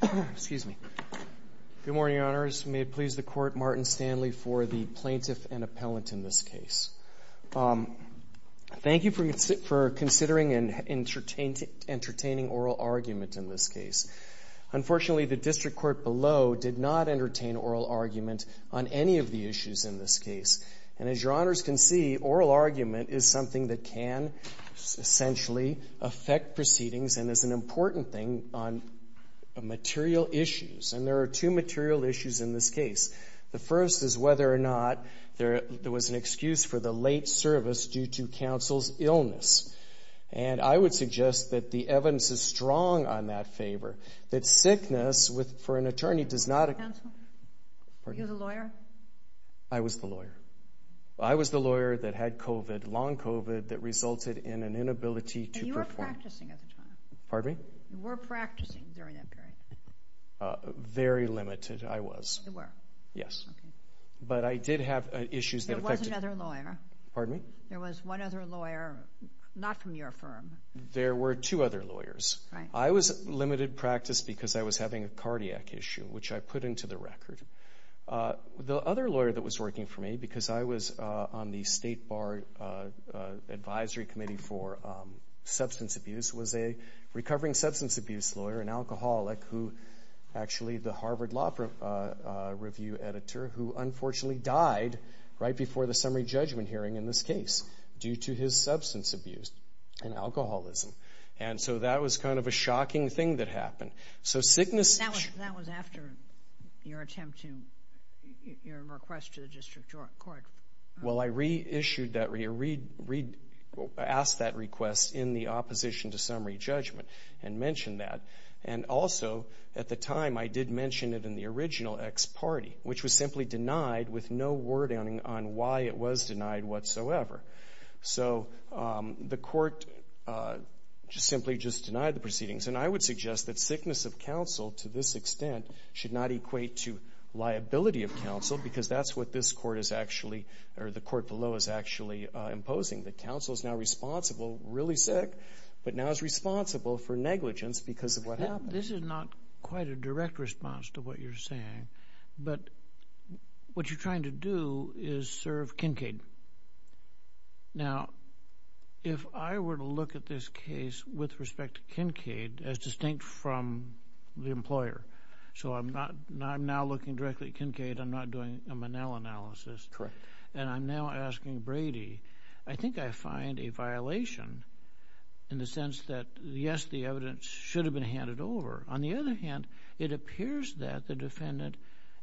Good morning, Your Honors. May it please the Court, Martin Stanley for the plaintiff and appellant in this case. Thank you for considering and entertaining oral argument in this case. Unfortunately, the district court below did not entertain oral argument on any of the issues in this case. And as Your Honors can see, oral argument is something that can essentially affect proceedings and is an important thing on material issues. And there are two material issues in this case. The first is whether or not there was an excuse for the late service due to counsel's illness. And I would suggest that the evidence is strong on that favor, that sickness for an attorney does not... Counsel? Pardon? Are you the lawyer? I was the lawyer. I was the lawyer that had COVID, long COVID, that resulted in an inability to perform... And you were practicing at the time? Pardon me? You were practicing during that period? Very limited, I was. You were? Yes. Okay. But I did have issues that affected... There was another lawyer? Pardon me? There was one other lawyer, not from your firm? There were two other lawyers. I was limited practice because I was having a cardiac issue, which I put into the record. The other lawyer that was working for me, because I was on the State Bar Advisory Committee for Substance Abuse, was a recovering substance abuse lawyer, an alcoholic, who actually, the Harvard Law Review editor, who unfortunately died right before the summary judgment hearing in this case due to his substance abuse and alcoholism. And so that was kind of a shocking thing that happened. So sickness... That was after your attempt to... your request to the District Court. Well, I reissued that... I asked that request in the opposition to summary judgment and mentioned that. And also, at the time, I did mention it in the original ex parte, which was simply denied with no wording on why it was denied whatsoever. So the court simply just denied the proceedings. And I would suggest that sickness of counsel, to this extent, should not equate to liability of counsel, because that's what this court is actually... or the court below is actually imposing. That counsel is now responsible, really sick, but now is responsible for negligence because of what happened. This is not quite a direct response to what you're saying, but what you're trying to do is serve Kincaid. Now, if I were to look at this case with respect to Kincaid, as distinct from the employer, so I'm not... I'm now looking directly at Kincaid. I'm not doing a Manel analysis. Correct. And I'm now asking Brady. I think I find a violation in the sense that, yes, the evidence should have been handed over. On the other hand, it appears that the defendant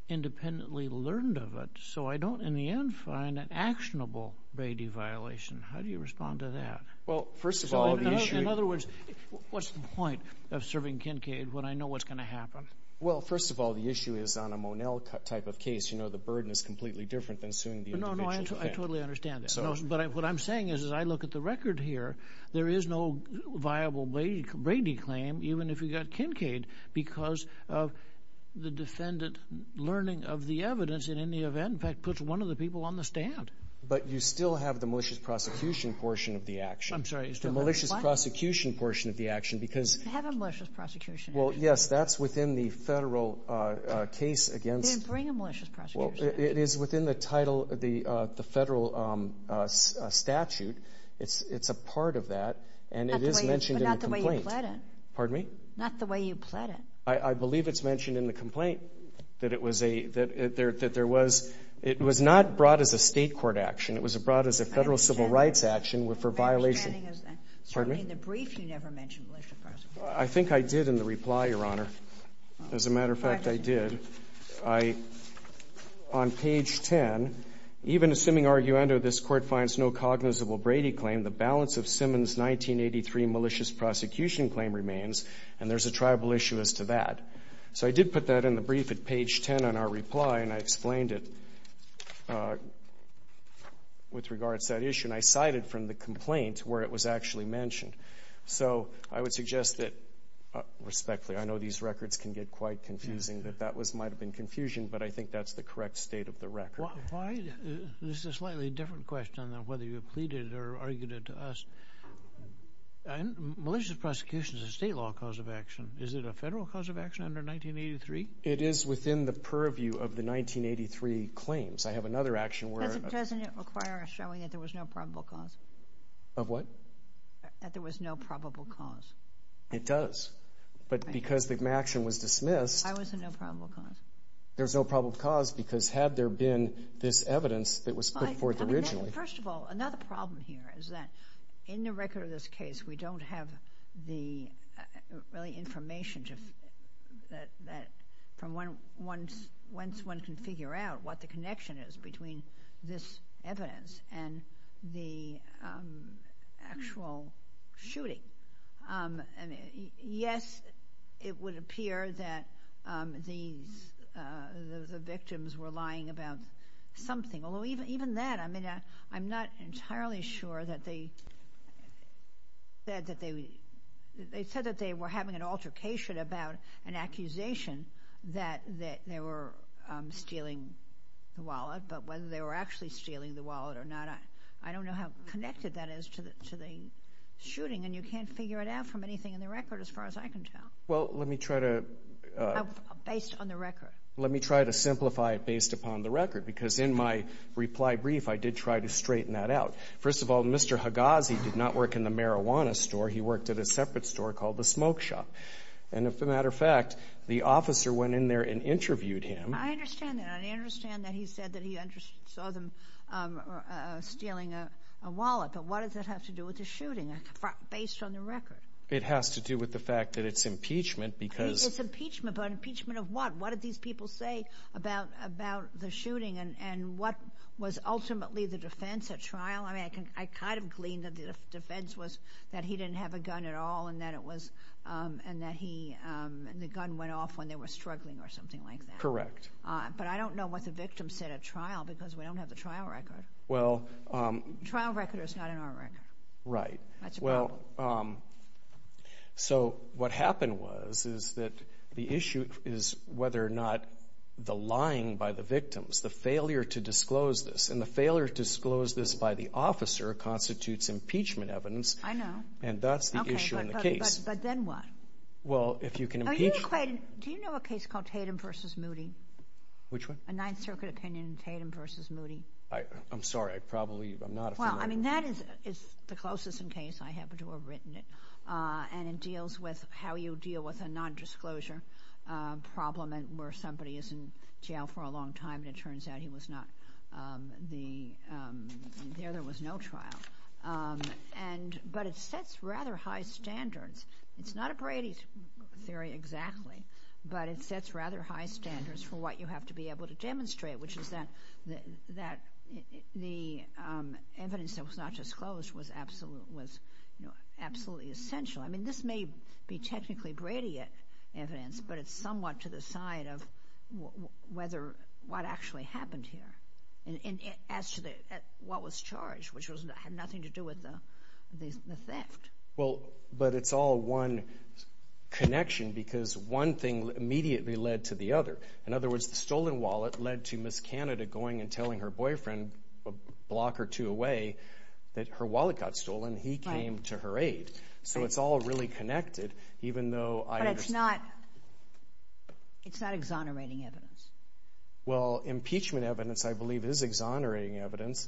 independently learned of it. So I don't, in the end, find an actionable Brady violation. How do you respond to that? Well, first of all, the issue... Well, first of all, the issue is on a Manel type of case, you know, the burden is completely different than suing the individual. No, no, I totally understand that. But what I'm saying is, as I look at the record here, there is no viable Brady claim, even if you got Kincaid, because of the defendant learning of the evidence, and in the event, in fact, puts one of the people on the stand. But you still have the malicious prosecution portion of the action. I'm sorry, you still have what? The malicious prosecution portion of the action, because... You have a malicious prosecution action. Well, yes, that's within the federal case against... Then bring a malicious prosecution action. It is within the title, the federal statute. It's a part of that, and it is mentioned in the complaint. But not the way you pled it. Pardon me? Not the way you pled it. I believe it's mentioned in the complaint that it was a, that there was, it was not brought as a state court action. It was brought as a federal civil rights action for violation. I understand. I understand. Pardon me? In the brief, you never mentioned malicious prosecution. I think I did in the reply, Your Honor. As a matter of fact, I did. I, on page 10, even assuming arguendo this Court finds no cognizable Brady claim, the balance of Simmons' 1983 malicious prosecution claim remains, and there's a tribal issue as to that. So I did put that in the brief at page 10 on our reply, and I explained it with regards to that issue, and I cited from the complaint where it was actually mentioned. So I would suggest that, respectfully, I know these records can get quite confusing, that that was, might have been confusion, but I think that's the correct state of the record. Why, this is a slightly different question than whether you pleaded or argued it to us. Malicious prosecution is a state law cause of action. Is it a federal cause of action under 1983? It is within the purview of the 1983 claims. I have another action where Doesn't it require showing that there was no probable cause? Of what? That there was no probable cause. It does, but because the action was dismissed I was a no probable cause. There's no probable cause because had there been this evidence that was put forth originally First of all, another problem here is that, in the record of this case, we don't have the information that, once one can figure out what the connection is between this evidence and the actual shooting. Yes, it would appear that the victims were lying about something, although even that, I'm not entirely sure that they said that they were having an altercation about an accusation that they were stealing the wallet, but whether they were actually stealing the wallet or not, I don't know how connected that is to the shooting, and you can't figure it out from anything in the record, as far as I can tell, based on the record. Let me try to simplify it based upon the record, because in my reply brief, I did try to straighten that out. First of all, Mr. Hagazi did not work in the marijuana store. He worked at a separate store called the Smoke Shop, and as a matter of fact, the officer went in there and interviewed him. I understand that. I understand that he said that he saw them stealing a wallet, but what does that have to do with the shooting, based on the record? It has to do with the fact that it's impeachment because It's impeachment, but impeachment of what? What did these people say about the shooting, and what was ultimately the defense at trial? I mean, I kind of gleaned that the defense was that he didn't have a gun at all, and that the gun went off when they were struggling or something like that, but I don't know what the victim said at trial because we don't have the trial record. The trial record is not in our record. Right. So, what happened was, is that the issue is whether or not the lying by the victims, the failure to disclose this, and the failure to disclose this by the officer constitutes impeachment evidence, and that's the issue in the case. But then what? Well, if you can impeach... Do you know a case called Tatum v. Moody? Which one? A Ninth Circuit opinion, Tatum v. Moody. I'm sorry, I probably, I'm not familiar with that. Well, I mean, that is the closest in case I happen to have written it, and it deals with how you deal with a non-disclosure problem where somebody is in jail for a long time and it turns out he was not the, there was no trial. But it sets rather high standards. It's not a Brady theory exactly, but it sets rather high standards for what you have to be able to demonstrate, which is that the evidence that was not disclosed was absolutely essential. I mean, this may be technically Brady evidence, but it's somewhat to the side of whether, what actually happened here, and as to what was charged, which had nothing to do with the theft. Well, but it's all one connection because one thing immediately led to the other. In one wallet led to Ms. Canada going and telling her boyfriend a block or two away that her wallet got stolen. He came to her aid. So it's all really connected, even though I understand. But it's not, it's not exonerating evidence. Well, impeachment evidence I believe is exonerating evidence.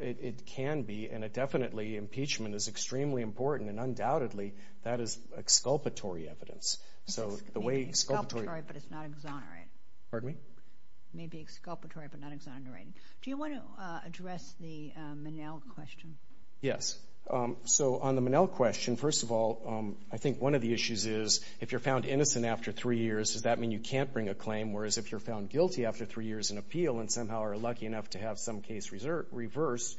It can be, and it definitely, impeachment is extremely important, and undoubtedly that is exculpatory evidence. So the way exculpatory but it's not exonerating. Pardon me? It may be exculpatory but not exonerating. Do you want to address the Minnell question? Yes. So on the Minnell question, first of all, I think one of the issues is if you're found innocent after three years, does that mean you can't bring a claim? Whereas if you're found guilty after three years in appeal and somehow are lucky enough to have some case reversed,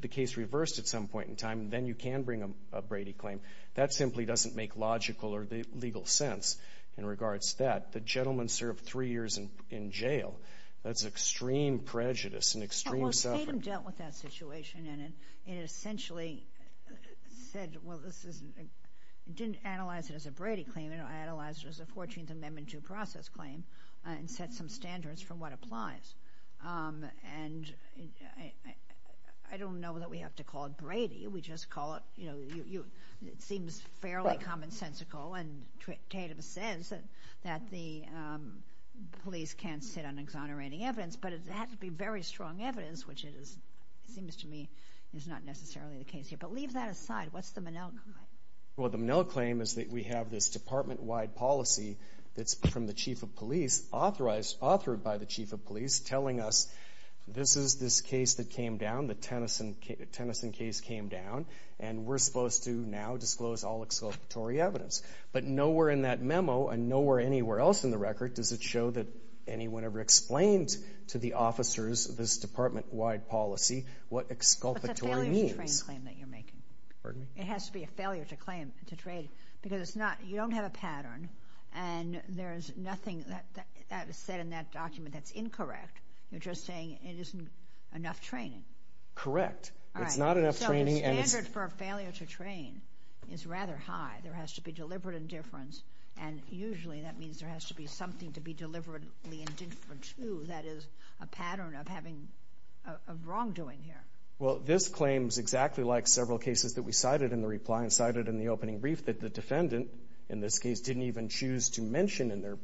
the case reversed at some point in time, then you can bring a Brady claim. That simply doesn't make logical or legal sense in regards to that. The gentleman served three years in jail. That's extreme prejudice and extreme suffering. Well, Satan dealt with that situation and it essentially said, well, this isn't, it didn't analyze it as a Brady claim. It analyzed it as a 14th Amendment due process claim and set some standards for what applies. And I don't know that we have to call it Brady. We just call it, you know, it seems fairly commonsensical and dictative sense that the police can't sit on exonerating evidence. But it has to be very strong evidence, which it is, it seems to me, is not necessarily the case here. But leave that aside. What's the Minnell claim? Well, the Minnell claim is that we have this department-wide policy that's from the chief of police authorized, authored by the chief of police, telling us this is this case that came down, the Tennyson case came down, and we're supposed to now disclose all exculpatory evidence. But nowhere in that memo and nowhere anywhere else in the record does it show that anyone ever explained to the officers this department-wide policy, what exculpatory means. But it's a failure to train claim that you're making. Pardon me? It has to be a failure to claim, to trade, because it's not, you don't have a pattern and there's nothing that is said in that document that's incorrect. You're just saying it isn't enough training. Correct. It's not enough training and it's... So the standard for a failure to train is rather high. There has to be deliberate indifference and usually that means there has to be something to be deliberately indifferent to that is a pattern of having, of wrongdoing here. Well, this claim is exactly like several cases that we cited in the reply and cited in the opening brief that the defendant, in this case, didn't even choose to mention in their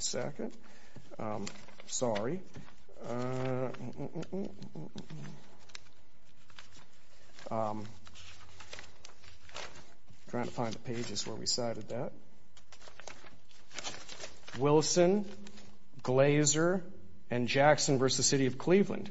second. Sorry. I'm trying to find the pages where we cited that. Wilson, Glazer, and Jackson v. The City of Cleveland.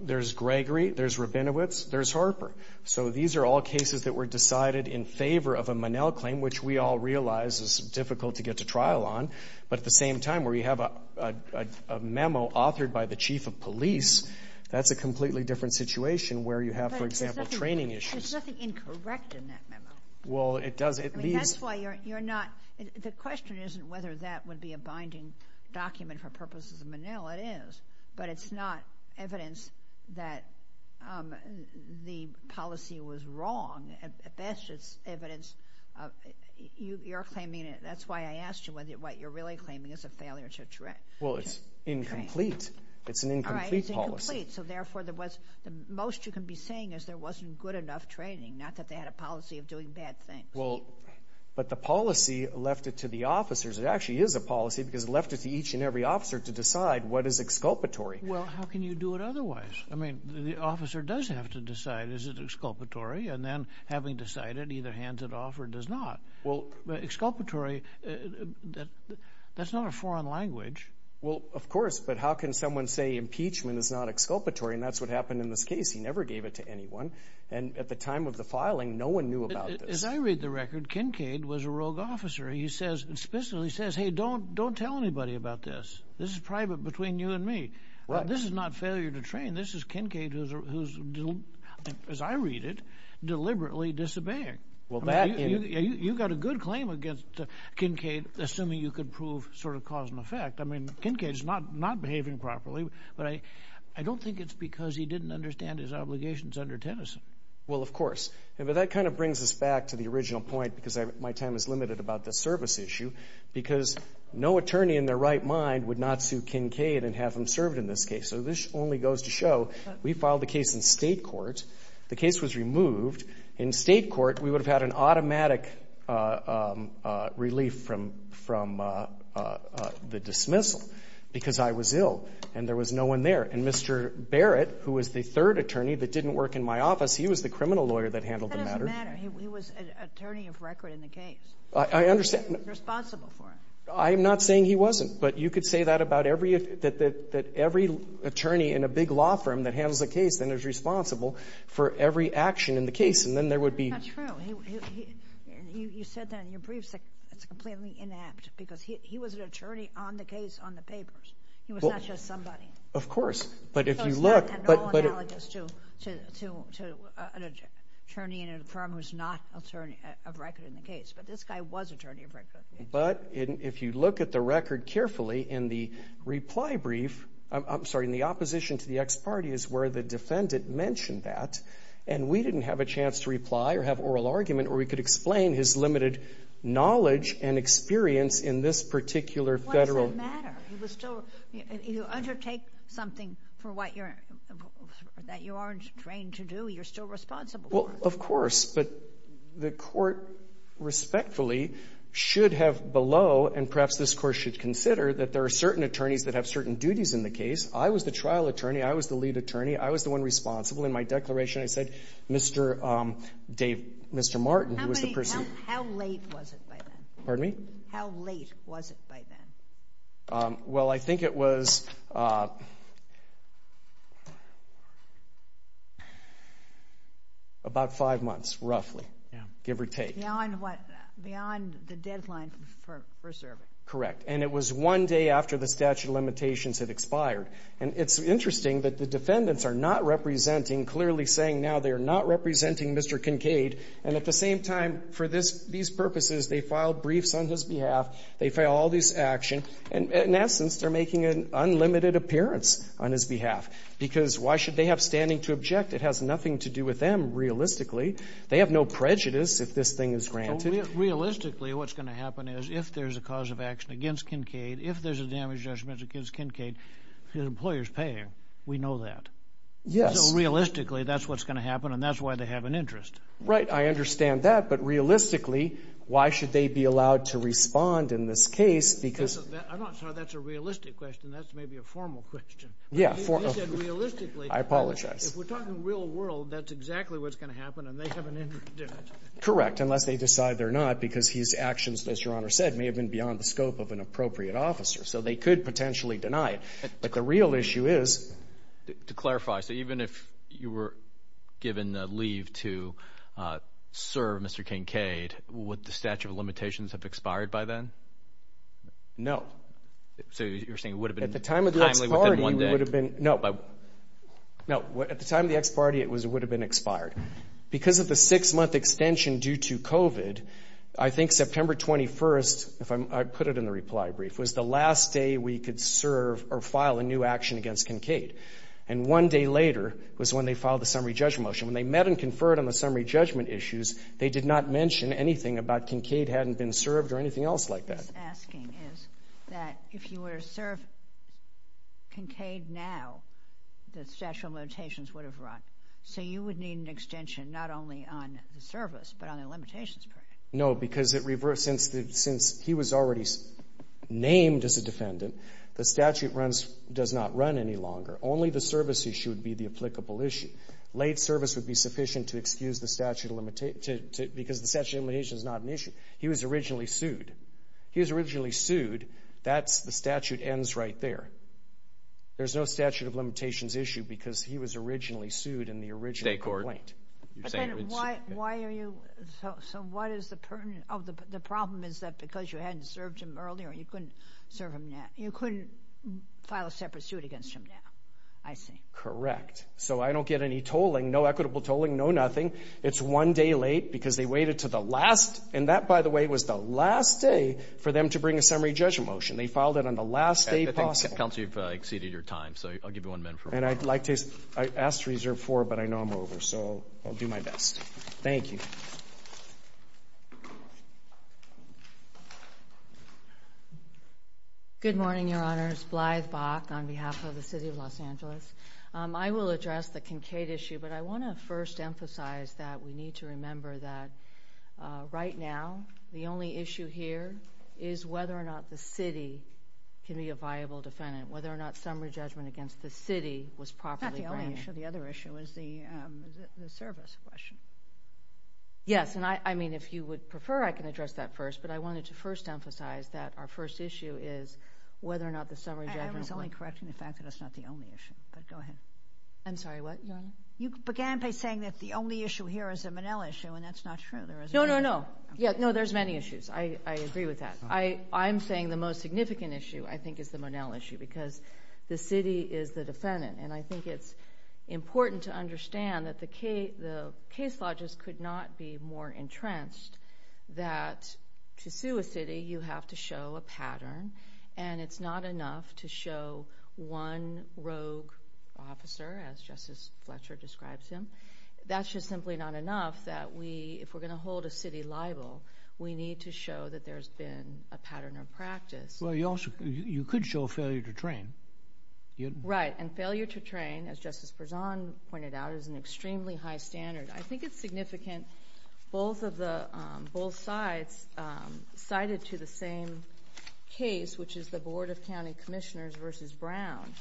There's Gregory, there's Rabinowitz, there's Harper. So these are all cases that were decided in favor of a Monell claim, which we all realize is difficult to get to trial on. But at the same time, where you have a memo authored by the chief of police, that's a completely different situation where you have, for example, training issues. But there's nothing incorrect in that memo. Well, it does, it leaves... I mean, that's why you're not, the question isn't whether that would be a binding document for purposes of Monell. It is, but it's not evidence that the policy was wrong. At best, it's evidence. You're claiming, that's why I asked you whether what you're really claiming is a failure to train. Well, it's incomplete. It's an incomplete policy. All right, it's incomplete. So therefore, the most you can be saying is there wasn't good enough training, not that they had a policy of doing bad things. But the policy left it to the officers. It actually is a policy because it left it to each and every officer to decide what is exculpatory. Well, how can you do it otherwise? I mean, the officer does have to decide, is it exculpatory? And then, having decided, either hands it off or does not. Well... Exculpatory, that's not a foreign language. Well, of course, but how can someone say impeachment is not exculpatory? And that's what happened in this case. He never gave it to anyone. And at the time of the filing, no one knew about this. As I read the record, Kincaid was a rogue officer. He says, explicitly says, hey, don't tell anybody about this. This is private between you and me. Right. This is not failure to train. This is Kincaid who's, as I read it, deliberately disobeying. You've got a good claim against Kincaid, assuming you could prove sort of cause and effect. I mean, Kincaid's not behaving properly, but I don't think it's because he didn't understand his obligations under Tennyson. Well, of course. But that kind of brings us back to the original point, because my time is limited about the service issue, because no attorney in their right mind would not to Kincaid and have him served in this case. So this only goes to show we filed the case in state court. The case was removed. In state court, we would have had an automatic relief from the dismissal because I was ill and there was no one there. And Mr. Barrett, who was the third attorney that didn't work in my office, he was the criminal lawyer that handled the matter. It doesn't matter. He was an attorney of record in the case, responsible for it. I'm not saying he wasn't, but you could say that about every attorney in a big law firm that handles a case and is responsible for every action in the case, and then there would be... That's not true. You said that in your briefs, it's completely inapt, because he was an attorney on the case, on the papers. He was not just somebody. Of course. But if you look... So it's not at all analogous to an attorney in a firm who's not attorney of record in the case. But this guy was attorney of record. But if you look at the record carefully in the reply brief, I'm sorry, in the opposition to the ex-party is where the defendant mentioned that, and we didn't have a chance to reply or have oral argument where we could explain his limited knowledge and experience in this particular federal... Why does it matter? He was still... You undertake something for what you're... that you aren't trained to do, you're still responsible for it. Well, of course. But the court, respectfully, should have below, and perhaps this court should consider, that there are certain attorneys that have certain duties in the case. I was the trial attorney. I was the lead attorney. I was the one responsible. In my declaration I said, Mr. Dave... Mr. Martin, who was the person... How late was it by then? Pardon me? How late was it by then? Well, I think it was... About five months, roughly, give or take. Beyond what? Beyond the deadline for serving. Correct. And it was one day after the statute of limitations had expired. And it's interesting that the defendants are not representing, clearly saying now they are not representing Mr. Kincaid. And at the same time, for these purposes, they filed briefs on his behalf. They file all these actions. And, in essence, they're making an unlimited appearance on his behalf. Because why should they have standing to object? It has nothing to do with them, realistically. They have no prejudice if this thing is granted. Realistically, what's going to happen is, if there's a cause of action against Kincaid, if there's a damage judgment against Kincaid, the employer's paying. We know that. Yes. So, realistically, that's what's going to happen, and that's why they have an interest. Right. I understand that. But, realistically, why should they be allowed to respond in this case because... I'm not sure that's a realistic question. That's maybe a formal question. Yeah. You said realistically. I apologize. If we're talking real world, that's exactly what's going to happen, and they have an interest in it. Correct. Unless they decide they're not, because his actions, as Your Honor said, may have been beyond the scope of an appropriate officer. So they could potentially deny it. But the real issue is... To clarify, so even if you were given the leave to serve Mr. Kincaid, would the statute of limitations have expired by then? No. So you're saying it would have been... At the time of the ex parte, it would have been expired. Because of the six month extension due to COVID, I think September 21st, if I put it in the reply brief, was the last day we could serve or file a new action against Kincaid. And one day later was when they filed the summary judgment motion. When they met and conferred on the summary judgment issues, they did not mention anything about Kincaid hadn't been served or anything else like that. What I'm asking is that if you were to serve Kincaid now, the statute of limitations would have run. So you would need an extension not only on the service, but on the limitations part. No, because since he was already named as a defendant, the statute does not run any longer. Only the service issue would be the applicable issue. Late service would be sufficient to excuse the statute of limitations because the statute of limitations is not an issue. He was originally sued. He was originally sued. That's the statute ends right there. There's no statute of limitations issue because he was originally sued in the original complaint. But then why are you, so what is the problem? Oh, the problem is that because you hadn't served him earlier, you couldn't serve him now. You couldn't file a separate suit against him now. I see. Correct. So I don't get any tolling, no equitable tolling, no nothing. It's one day late because they waited to the last, and that by the way was the last day for them to bring a summary judgment motion. They filed it on the last day possible. I think counsel, you've exceeded your time. So I'll give you one minute for a moment. And I'd like to, I asked to reserve four, but I know I'm over, so I'll do my best. Thank you. Good morning, Your Honors. Blythe Bock on behalf of the City of Los Angeles. I will address the Kincaid issue, but I want to first emphasize that we need to remember that right now the only issue here is whether or not the city can be a viable defendant, whether or not summary judgment against the city was properly brought here. Not the only issue. The other issue is the service question. Yes, and I mean, if you would prefer I can address that first, but I wanted to first emphasize that our first issue is whether or not the summary judgment was... I was only correcting the fact that that's not the only issue, but go ahead. I'm sorry, what, Your Honor? You began by saying that the only issue here is the Monell issue, and that's not true. There is a... No, no, no. No, there's many issues. I agree with that. I'm saying the most significant issue I think is the Monell issue because the city is the defendant, and I think it's important to understand that the case law just could not be more entrenched that to sue a city you have to show a pattern, and it's not enough to show one rogue officer, as Justice Fletcher describes him. That's just simply not enough that we, if we're going to hold a city liable, we need to show that there's been a pattern of practice. Well, you also... you could show failure to train. Right, and failure to train, as Justice Berzon pointed out, is an extremely high standard. I think it's significant both of the... both sides cited to the same case, which is the Board of County Commissioners versus Brown,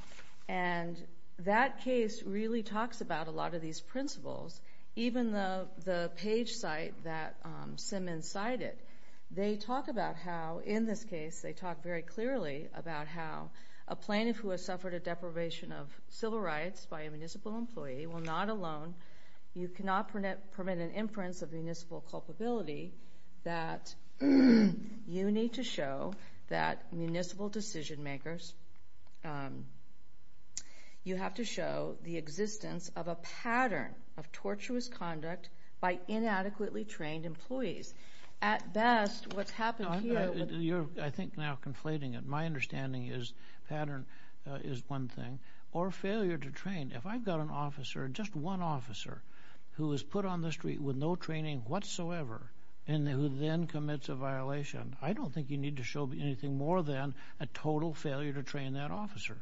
and that case really talks about a lot of these principles. Even the page site that Simmons cited, they talk about how in this case, they talk very clearly about how a plaintiff who has suffered a deprivation of civil rights by a municipal employee will not alone... you cannot permit an inference of municipal culpability that you need to show that municipal decision makers... you have to show the existence of a pattern of tortuous conduct by inadequately trained employees. At best, what's happened here... You're, I think, now conflating it. My understanding is pattern is one thing, or failure to train. If I've got an officer, just one officer, who is put on the street with no training whatsoever, and who then commits a violation, I don't think you need to show anything more than a total failure to train that officer.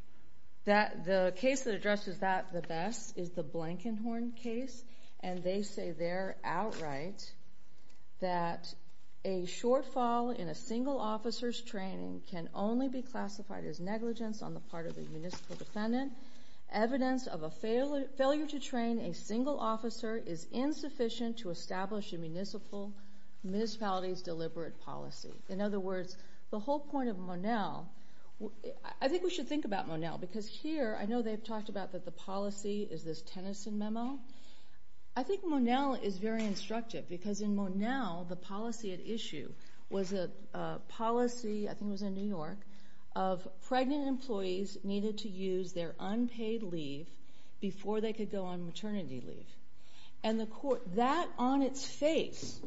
The case that addresses that the best is the Blankenhorn case, and they say there outright that a shortfall in a single officer's training can only be classified as negligence on the part of the municipal defendant. Evidence of a failure to train a single officer is insufficient to establish a municipality's deliberate policy. In other words, the whole point of Monell... I think we should think about Monell, because here, I know they've talked about that the policy is this Tennyson memo. I think Monell is very instructive, because in Monell, the policy at issue was a policy, I think it was in New York, of pregnant employees needed to use their unpaid leave before they could go on maternity leave. And the court... That, on its face,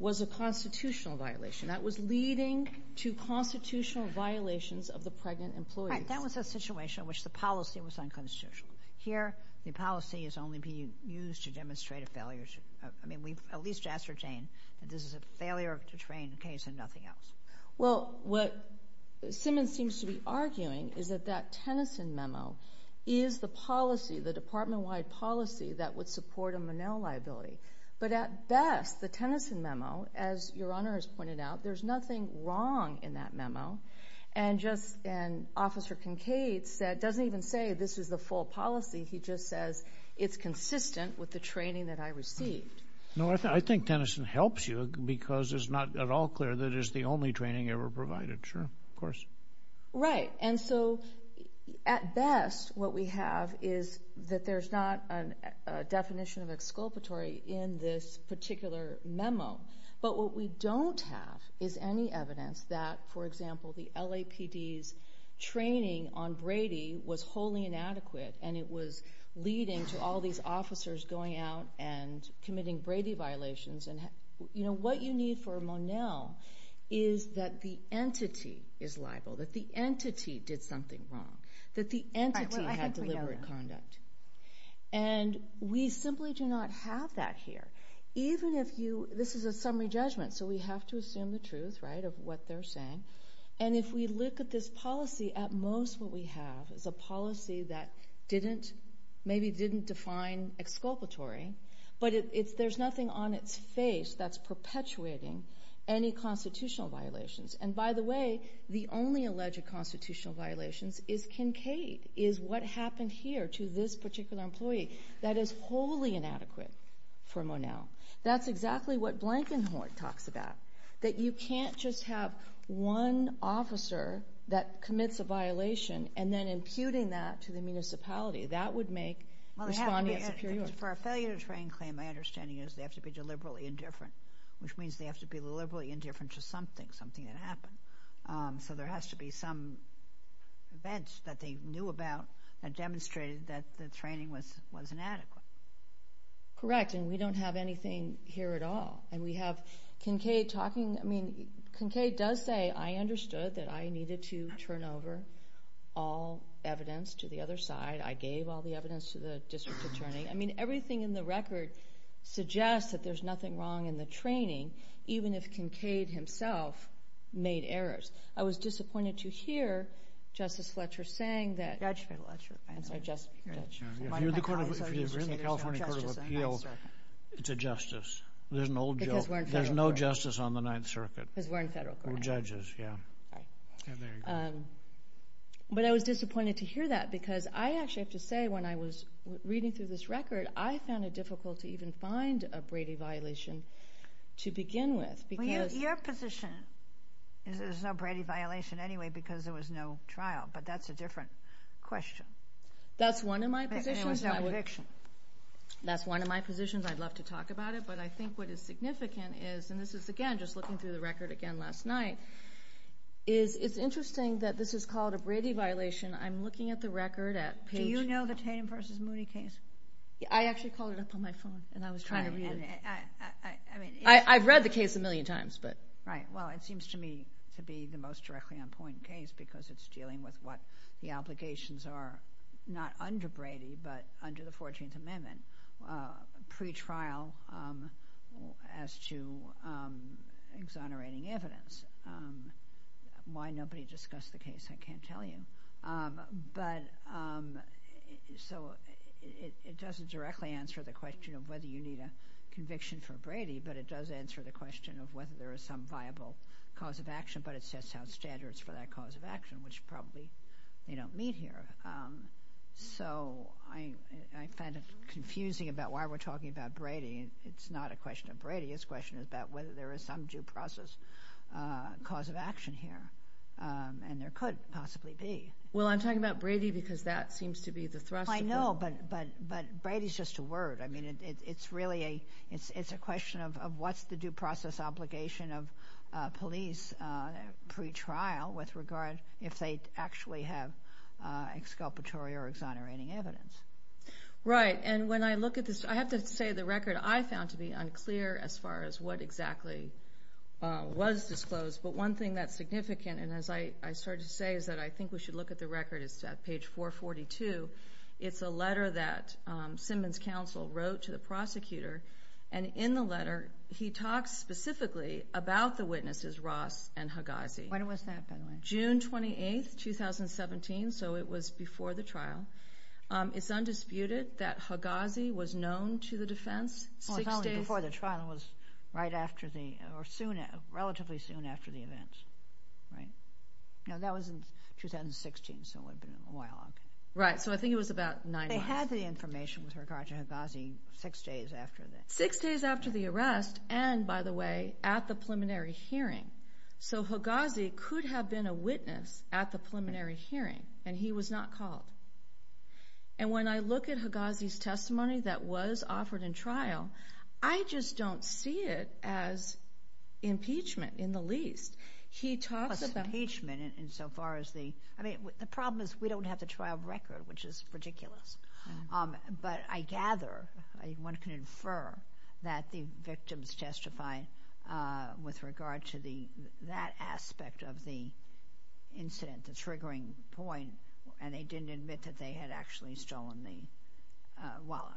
was a constitutional violation. That was leading to constitutional violations of the pregnant employees. Right. That was a situation in which the policy was unconstitutional. Here, the policy is only being used to demonstrate a failure to... I mean, we've at least asked for Jane that this is a failure to train case and nothing else. Well, what Simmons seems to be arguing is that that Tennyson memo is the policy, the department-wide policy, that would support a Monell liability. But at best, the Tennyson doesn't even say this is the full policy. He just says it's consistent with the training that I received. No, I think Tennyson helps you, because it's not at all clear that it's the only training ever provided. Sure. Of course. Right. And so, at best, what we have is that there's not a definition of exculpatory in this particular memo. But what we don't have is any evidence that, for example, the LAPD's training on Brady was wholly inadequate, and it was leading to all these officers going out and committing Brady violations. You know, what you need for Monell is that the entity is liable, that the entity did something wrong, that the entity had deliberate conduct. And we simply do not have that here. Even if you... this is a summary judgment, so we have to assume the truth, right, of what they're saying. And if we look at this policy, at most what we have is a policy that didn't... maybe didn't define exculpatory, but there's nothing on its face that's perpetuating any constitutional violations. And by the way, the only alleged constitutional violations is Kincaid, is what happened here to this particular employee. That is wholly inadequate for Monell. That's exactly what Blankenhort talks about. That you can't just have one officer that commits a violation, and then imputing that to the municipality. That would make Respondia superior. For a failure to train claim, my understanding is they have to be deliberately indifferent, which means they have to be deliberately indifferent to something, something that happened. So there has to be some events that they knew about that demonstrated that the training was inadequate. Correct. And we don't have anything here at all. And we have Kincaid talking... I mean, Kincaid does say, I understood that I needed to turn over all evidence to the other side. I gave all the evidence to the district attorney. I mean, everything in the record suggests that there's nothing wrong in the training, even if Kincaid himself made errors. I was disappointed to hear Justice Fletcher saying that... Judge Fletcher. I'm sorry, Justice Fletcher. If you're in the California Court of Appeals, it's a justice. There's an old joke. Because we're in federal court. There's no justice on the Ninth Circuit. Because we're in federal court. We're judges, yeah. All right. Yeah, there you go. But I was disappointed to hear that, because I actually have to say, when I was reading through this record, I found it difficult to even find a Brady violation to begin with, because... Well, your position is there's no Brady violation anyway, because there was no trial. But that's a different question. That's one of my positions. But there was no conviction. That's one of my positions. I'd love to talk about it. But I think what is significant is, and this is, again, just looking through the record again last night, is it's interesting that this is called a Brady violation. I'm looking at the record at Page... Do you know the Tatum v. Moody case? I actually called it up on my phone, and I was trying to read it. I mean... I've read the case a million times, but... Right. Well, it seems to me to be the most directly on point case, because it's dealing with what the obligations are, not under Brady, but under the 14th Amendment, pretrial as to exonerating evidence. Why nobody discussed the case, I can't tell you. But... So it doesn't directly answer the question of whether you need a conviction for Brady, but it does answer the question of whether there is some viable cause of action. But it sets out standards for that cause of action, which probably they don't meet here. So I find it confusing about why we're talking about Brady. It's not a question of Brady. It's a question about whether there is some due process cause of action here, and there could possibly be. Well, I'm talking about Brady because that seems to be the thrust of the... I know, but Brady's just a word. I mean, it's really a... It's a question of what's the if they actually have exculpatory or exonerating evidence. Right. And when I look at this, I have to say the record I found to be unclear as far as what exactly was disclosed. But one thing that's significant, and as I started to say, is that I think we should look at the record. It's at page 442. It's a letter that Simmons Counsel wrote to the prosecutor. And in the letter, he talks specifically about the witnesses Ross and Higazi. When was that, by the way? June 28, 2017. So it was before the trial. It's undisputed that Higazi was known to the defense six days... Well, it's only before the trial. It was right after the... or soon... relatively soon after the event, right? No, that was in 2016, so it would have been a while. Right. So I think it was about nine months. They had the information with regard to Higazi six days after the... So Higazi could have been a witness at the preliminary hearing, and he was not called. And when I look at Higazi's testimony that was offered in trial, I just don't see it as impeachment in the least. He talks about... It was impeachment in so far as the... I mean, the problem is we don't have the trial record, which is ridiculous. But I gather, one can infer, that the victims testify with regard to that aspect of the incident, the triggering point, and they didn't admit that they had actually stolen the wallet.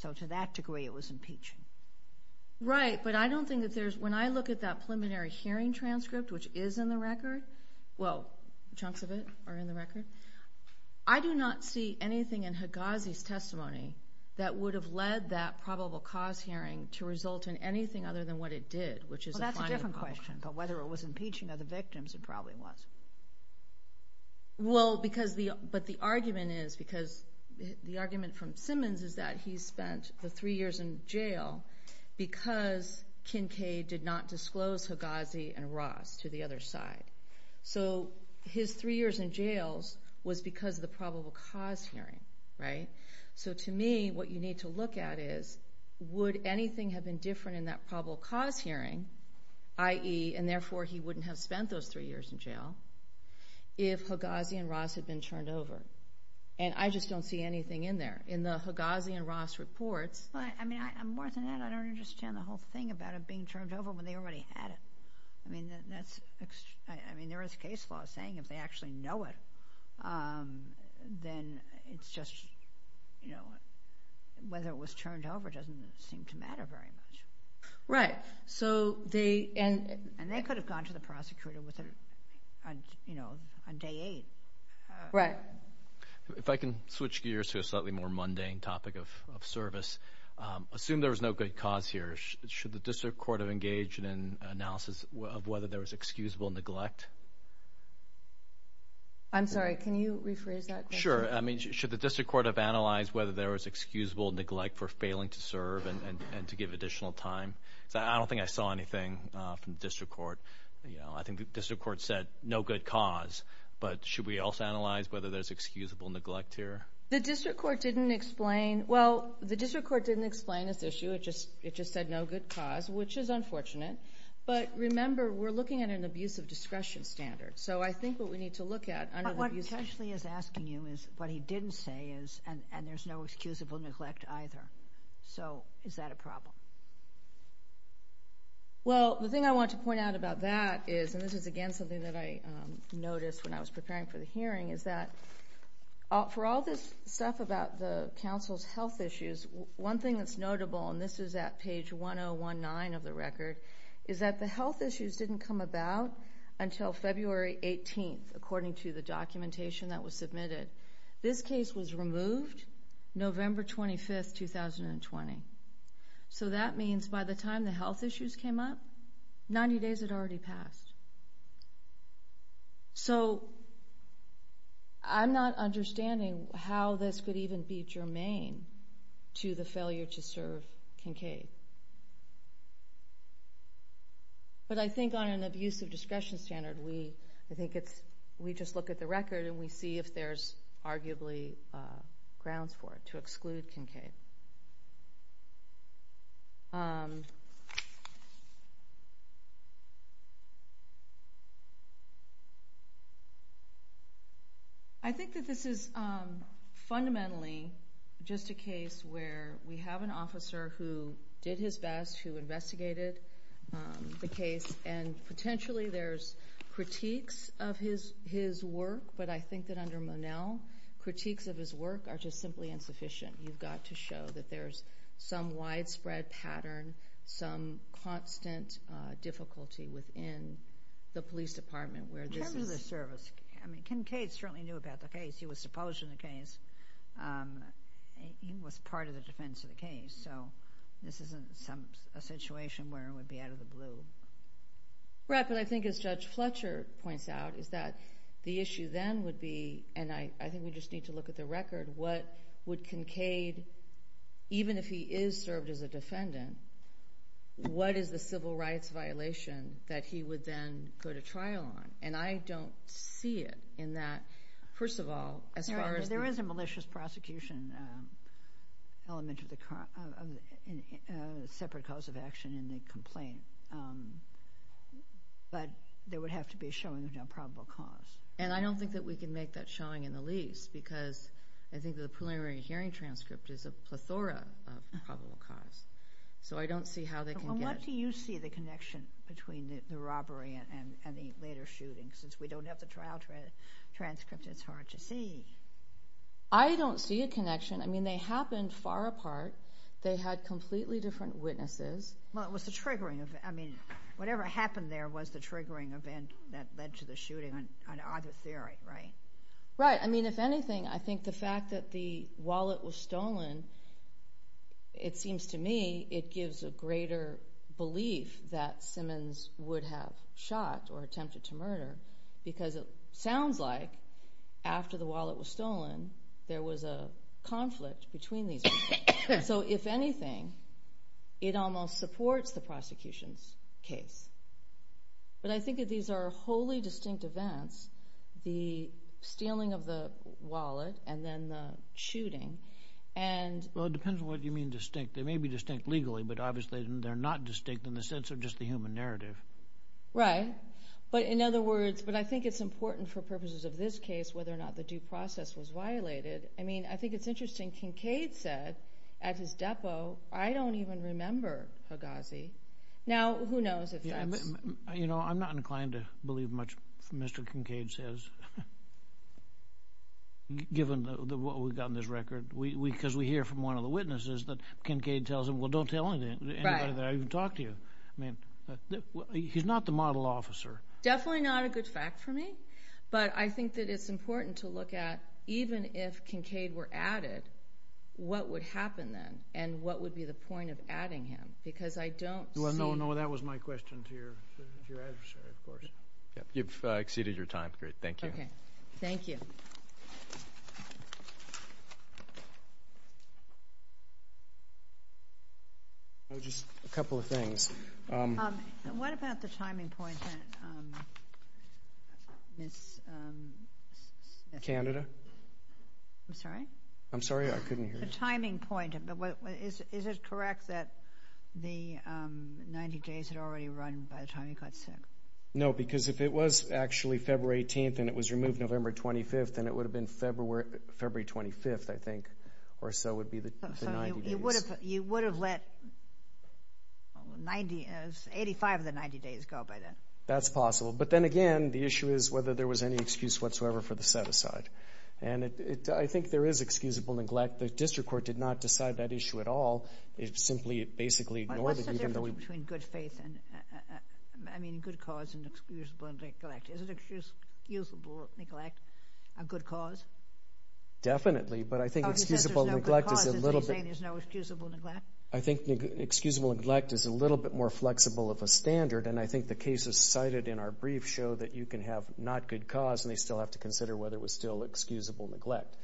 So to that degree, it was impeachment. Right, but I don't think that there's... When I look at that preliminary hearing transcript, which is in the record... well, chunks of it are in the record. I do not see anything in Higazi's testimony that would have led that probable cause hearing to result in anything other than what it did, which is... Well, that's a different question. But whether it was impeaching of the victims, it probably was. Well, because the... But the argument is, because the argument from Simmons is that he spent the three years in jail because Kincaid did not disclose Higazi and Ross to the other side. So his three years in jails was because of the probable cause hearing, right? So to me, what you need to look at is, would anything have been different in that probable cause hearing, i.e., and therefore he wouldn't have spent those three years in jail, if Higazi and Ross had been turned over? And I just don't see anything in there. In the Higazi and Ross reports... Well, I mean, more than that, I don't understand the whole thing about it being turned over when they already had it. I mean, that's... I mean, whether it was turned over doesn't seem to matter very much. Right. So they... And they could have gone to the prosecutor on day eight. Right. If I can switch gears to a slightly more mundane topic of service. Assume there was no good cause here. Should the district court have engaged in an analysis of whether there was excusable neglect? I'm sorry. Can you rephrase that question? Sure. I mean, should the district court have analyzed whether there was excusable neglect for failing to serve and to give additional time? I don't think I saw anything from the district court. I think the district court said no good cause. But should we also analyze whether there's excusable neglect here? The district court didn't explain... Well, the district court didn't explain this issue. It just said no good cause, which is unfortunate. But remember, we're looking at an abusive discretion standard. So I think what we need to look at... What he's actually asking you is, what he didn't say is, and there's no excusable neglect either. So is that a problem? Well, the thing I want to point out about that is, and this is again something that I noticed when I was preparing for the hearing, is that for all this stuff about the council's health issues, one thing that's notable, and this is at page 1019 of the record, is that the health issues didn't come about until February 18th, according to the documentation that was submitted. This case was removed November 25th, 2020. So that means by the time the health issues came up, 90 days had already passed. So I'm not understanding how this could even be germane to the failure to serve Kincaid. But I think on an abusive discretion standard, we just look at the record and we see if there's arguably grounds for it to exclude Kincaid. I think that this is fundamentally just a case where we have an officer who did his best, who investigated the case, and potentially there's critiques of his work, but I think that under Monell, critiques of his work are just simply insufficient. You've got to show that there's some widespread pattern, some constant difficulty within the police department where this is... In terms of the service, I mean, Kincaid certainly knew about the case. He was supposed to be in the case. He was part of the defense of the case. So this isn't a situation where it would be out of the blue. Right, but I think as Judge Fletcher points out, is that the issue then would be, and I think we just need to look at the record, what would Kincaid, even if he is served as a defendant, what is the civil rights violation that he would then go to trial on? And I don't see it in that, first of all, as far as... There is a malicious prosecution element of the separate cause of action in the complaint, but there would have to be a showing of no probable cause. And I don't think that we can make that showing in the lease, because I think that the preliminary hearing transcript is a plethora of probable cause. So I don't see how they can get... Well, what do you see the connection between the robbery and the later shootings? Since we don't have the trial transcript, it's hard to see. I don't see a connection. I mean, they happened far apart. They had completely different witnesses. Well, it was the triggering event. I mean, whatever happened there was the triggering event that led to the shooting on either theory, right? Right. I mean, if anything, I think the fact that the wallet was stolen, it seems to me it gives a greater belief that Simmons would have shot or attempted to murder, because it sounds like, after the wallet was stolen, there was a conflict between these people. So if anything, it almost supports the prosecution's case. But I think that these are wholly distinct events, the stealing of the wallet and then the shooting, and... Well, it depends on what you mean distinct. They may be distinct legally, but obviously they're not distinct in the human narrative. Right. But in other words, but I think it's important for purposes of this case whether or not the due process was violated. I mean, I think it's interesting Kincaid said at his depot, I don't even remember Higazi. Now, who knows if that's... You know, I'm not inclined to believe much Mr. Kincaid says, given what we've got in this record, because we hear from one of the witnesses that Kincaid tells them, well, don't tell anybody that I even talked to you. I mean, he's not the model officer. Definitely not a good fact for me, but I think that it's important to look at, even if Kincaid were added, what would happen then, and what would be the point of adding him, because I don't see... Well, no, no, that was my question to your adversary, of course. You've exceeded your time. Great. Thank you. Okay. Thank you. Just a couple of things. What about the timing point that Ms. Smith... Canada? I'm sorry? I'm sorry, I couldn't hear you. The timing point. Is it correct that the 90 days had already run by the time he got sick? No, because if it was actually February 18th and it was removed November 25th, then it would have been February 25th, I think, or so would be the 90 days. So, you would have let 85 of the 90 days go by then? That's possible, but then again, the issue is whether there was any excuse whatsoever for the set-aside, and I think there is excusable neglect. The District Court did not decide that issue at all. It simply basically ignored it, even though... I mean, good cause and excusable neglect. Is excusable neglect a good cause? Definitely, but I think excusable neglect is a little bit... Oh, you said there's no good cause, and you're saying there's no excusable neglect? I think excusable neglect is a little bit more flexible of a standard, and I think the cases cited in our brief show that you can have not good cause, and they still have to consider whether it was still excusable neglect.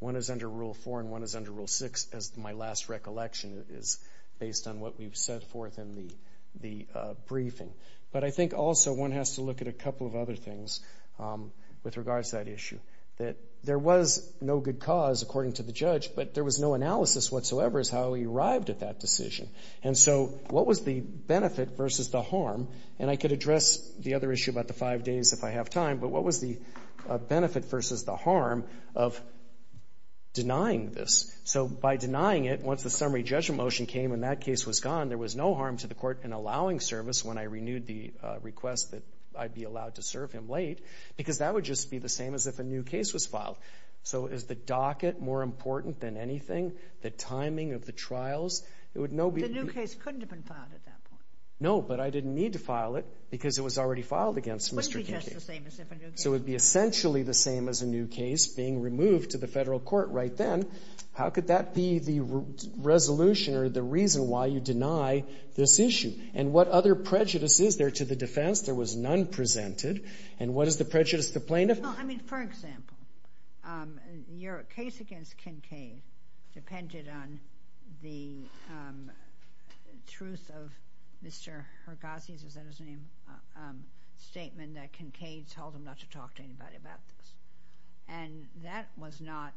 One is under Rule 4, and one is under Rule 6, as my last recollection is based on what we've set forth in the briefing. But I think also one has to look at a couple of other things with regards to that issue, that there was no good cause, according to the judge, but there was no analysis whatsoever as to how he arrived at that decision. And so, what was the benefit versus the harm? And I could address the other issue about the five days if I have time, but what was the benefit versus the harm of denying this? So, by denying it, once the summary judgment motion came and that case was gone, there was no harm to the court in allowing service when I renewed the request that I'd be allowed to serve him late, because that would just be the same as if a new case was filed. So, is the docket more important than anything? The timing of the trials? It would no be... The new case couldn't have been filed at that point. No, but I didn't need to file it, because it was already filed against Mr. Kincaid. It wouldn't be just the same as if a new case... So, it would be essentially the same as a new case being removed to the federal court right then. How could that be the resolution or the reason why you deny this issue? And what other prejudice is there to the defense? There was none presented. And what is the prejudice of the plaintiff? No, I mean, for example, your case against Kincaid depended on the truth of Mr. Hergazi's, is that his name, statement that Kincaid told him not to talk to anybody about this. And that was not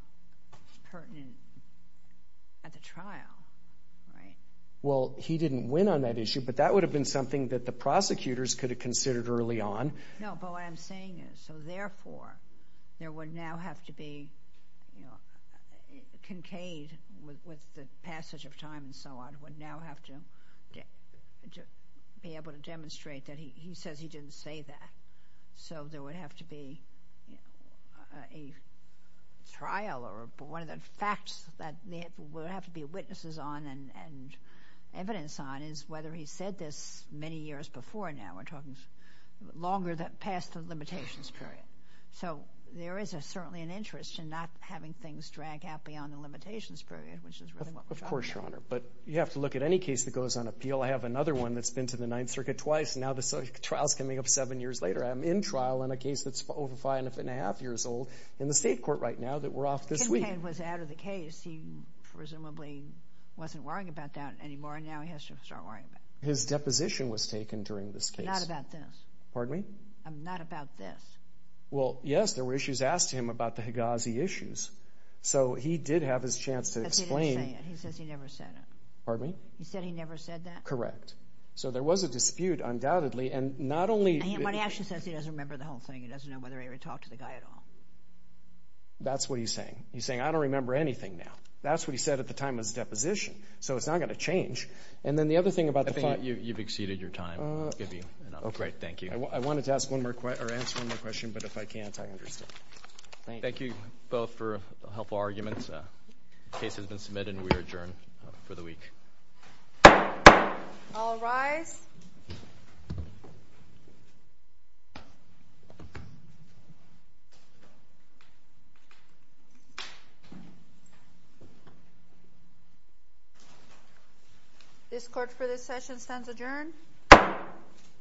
pertinent at the trial, right? Well, he didn't win on that issue, but that would have been something that the prosecutors could have considered early on. No, but what I'm saying is, so therefore, there would now have to be... Kincaid, with the passage of time and so on, would now have to be able to demonstrate that he says he didn't say that. So, there would have to be a trial or one of the facts that there would have to be witnesses on and evidence on is whether he said this many years before now. We're talking longer than past the limitations period. So, there is certainly an interest in not having things drag out beyond the limitations period, which is really what we're talking about. Of course, Your Honor, but you have to look at any case that goes on appeal. I have another one that's been to the Ninth Circuit twice. Now, the trial's coming up seven years later. I'm in trial in a case that's over five and a half years old in the state court right now that we're off this week. Kincaid was out of the case. He presumably wasn't worrying about that anymore, and now he has to start worrying about it. His deposition was taken during this case. Not about this. Pardon me? Not about this. Well, yes, there were issues asked to him about the Higazi issues. So, he did have his chance to explain. But he didn't Pardon me? He said he never said that? Correct. So, there was a dispute, undoubtedly, and not only... But he actually says he doesn't remember the whole thing. He doesn't know whether he ever talked to the guy at all. That's what he's saying. He's saying, I don't remember anything now. That's what he said at the time of his deposition. So, it's not going to change. And then the other thing about the... I think you've exceeded your time. I'll give you an update. Great, thank you. I wanted to ask one more question, but if I can't, I understand. Thank you both for helpful arguments. The case has been submitted and we are adjourned for the week. All rise. This court for this session stands adjourned.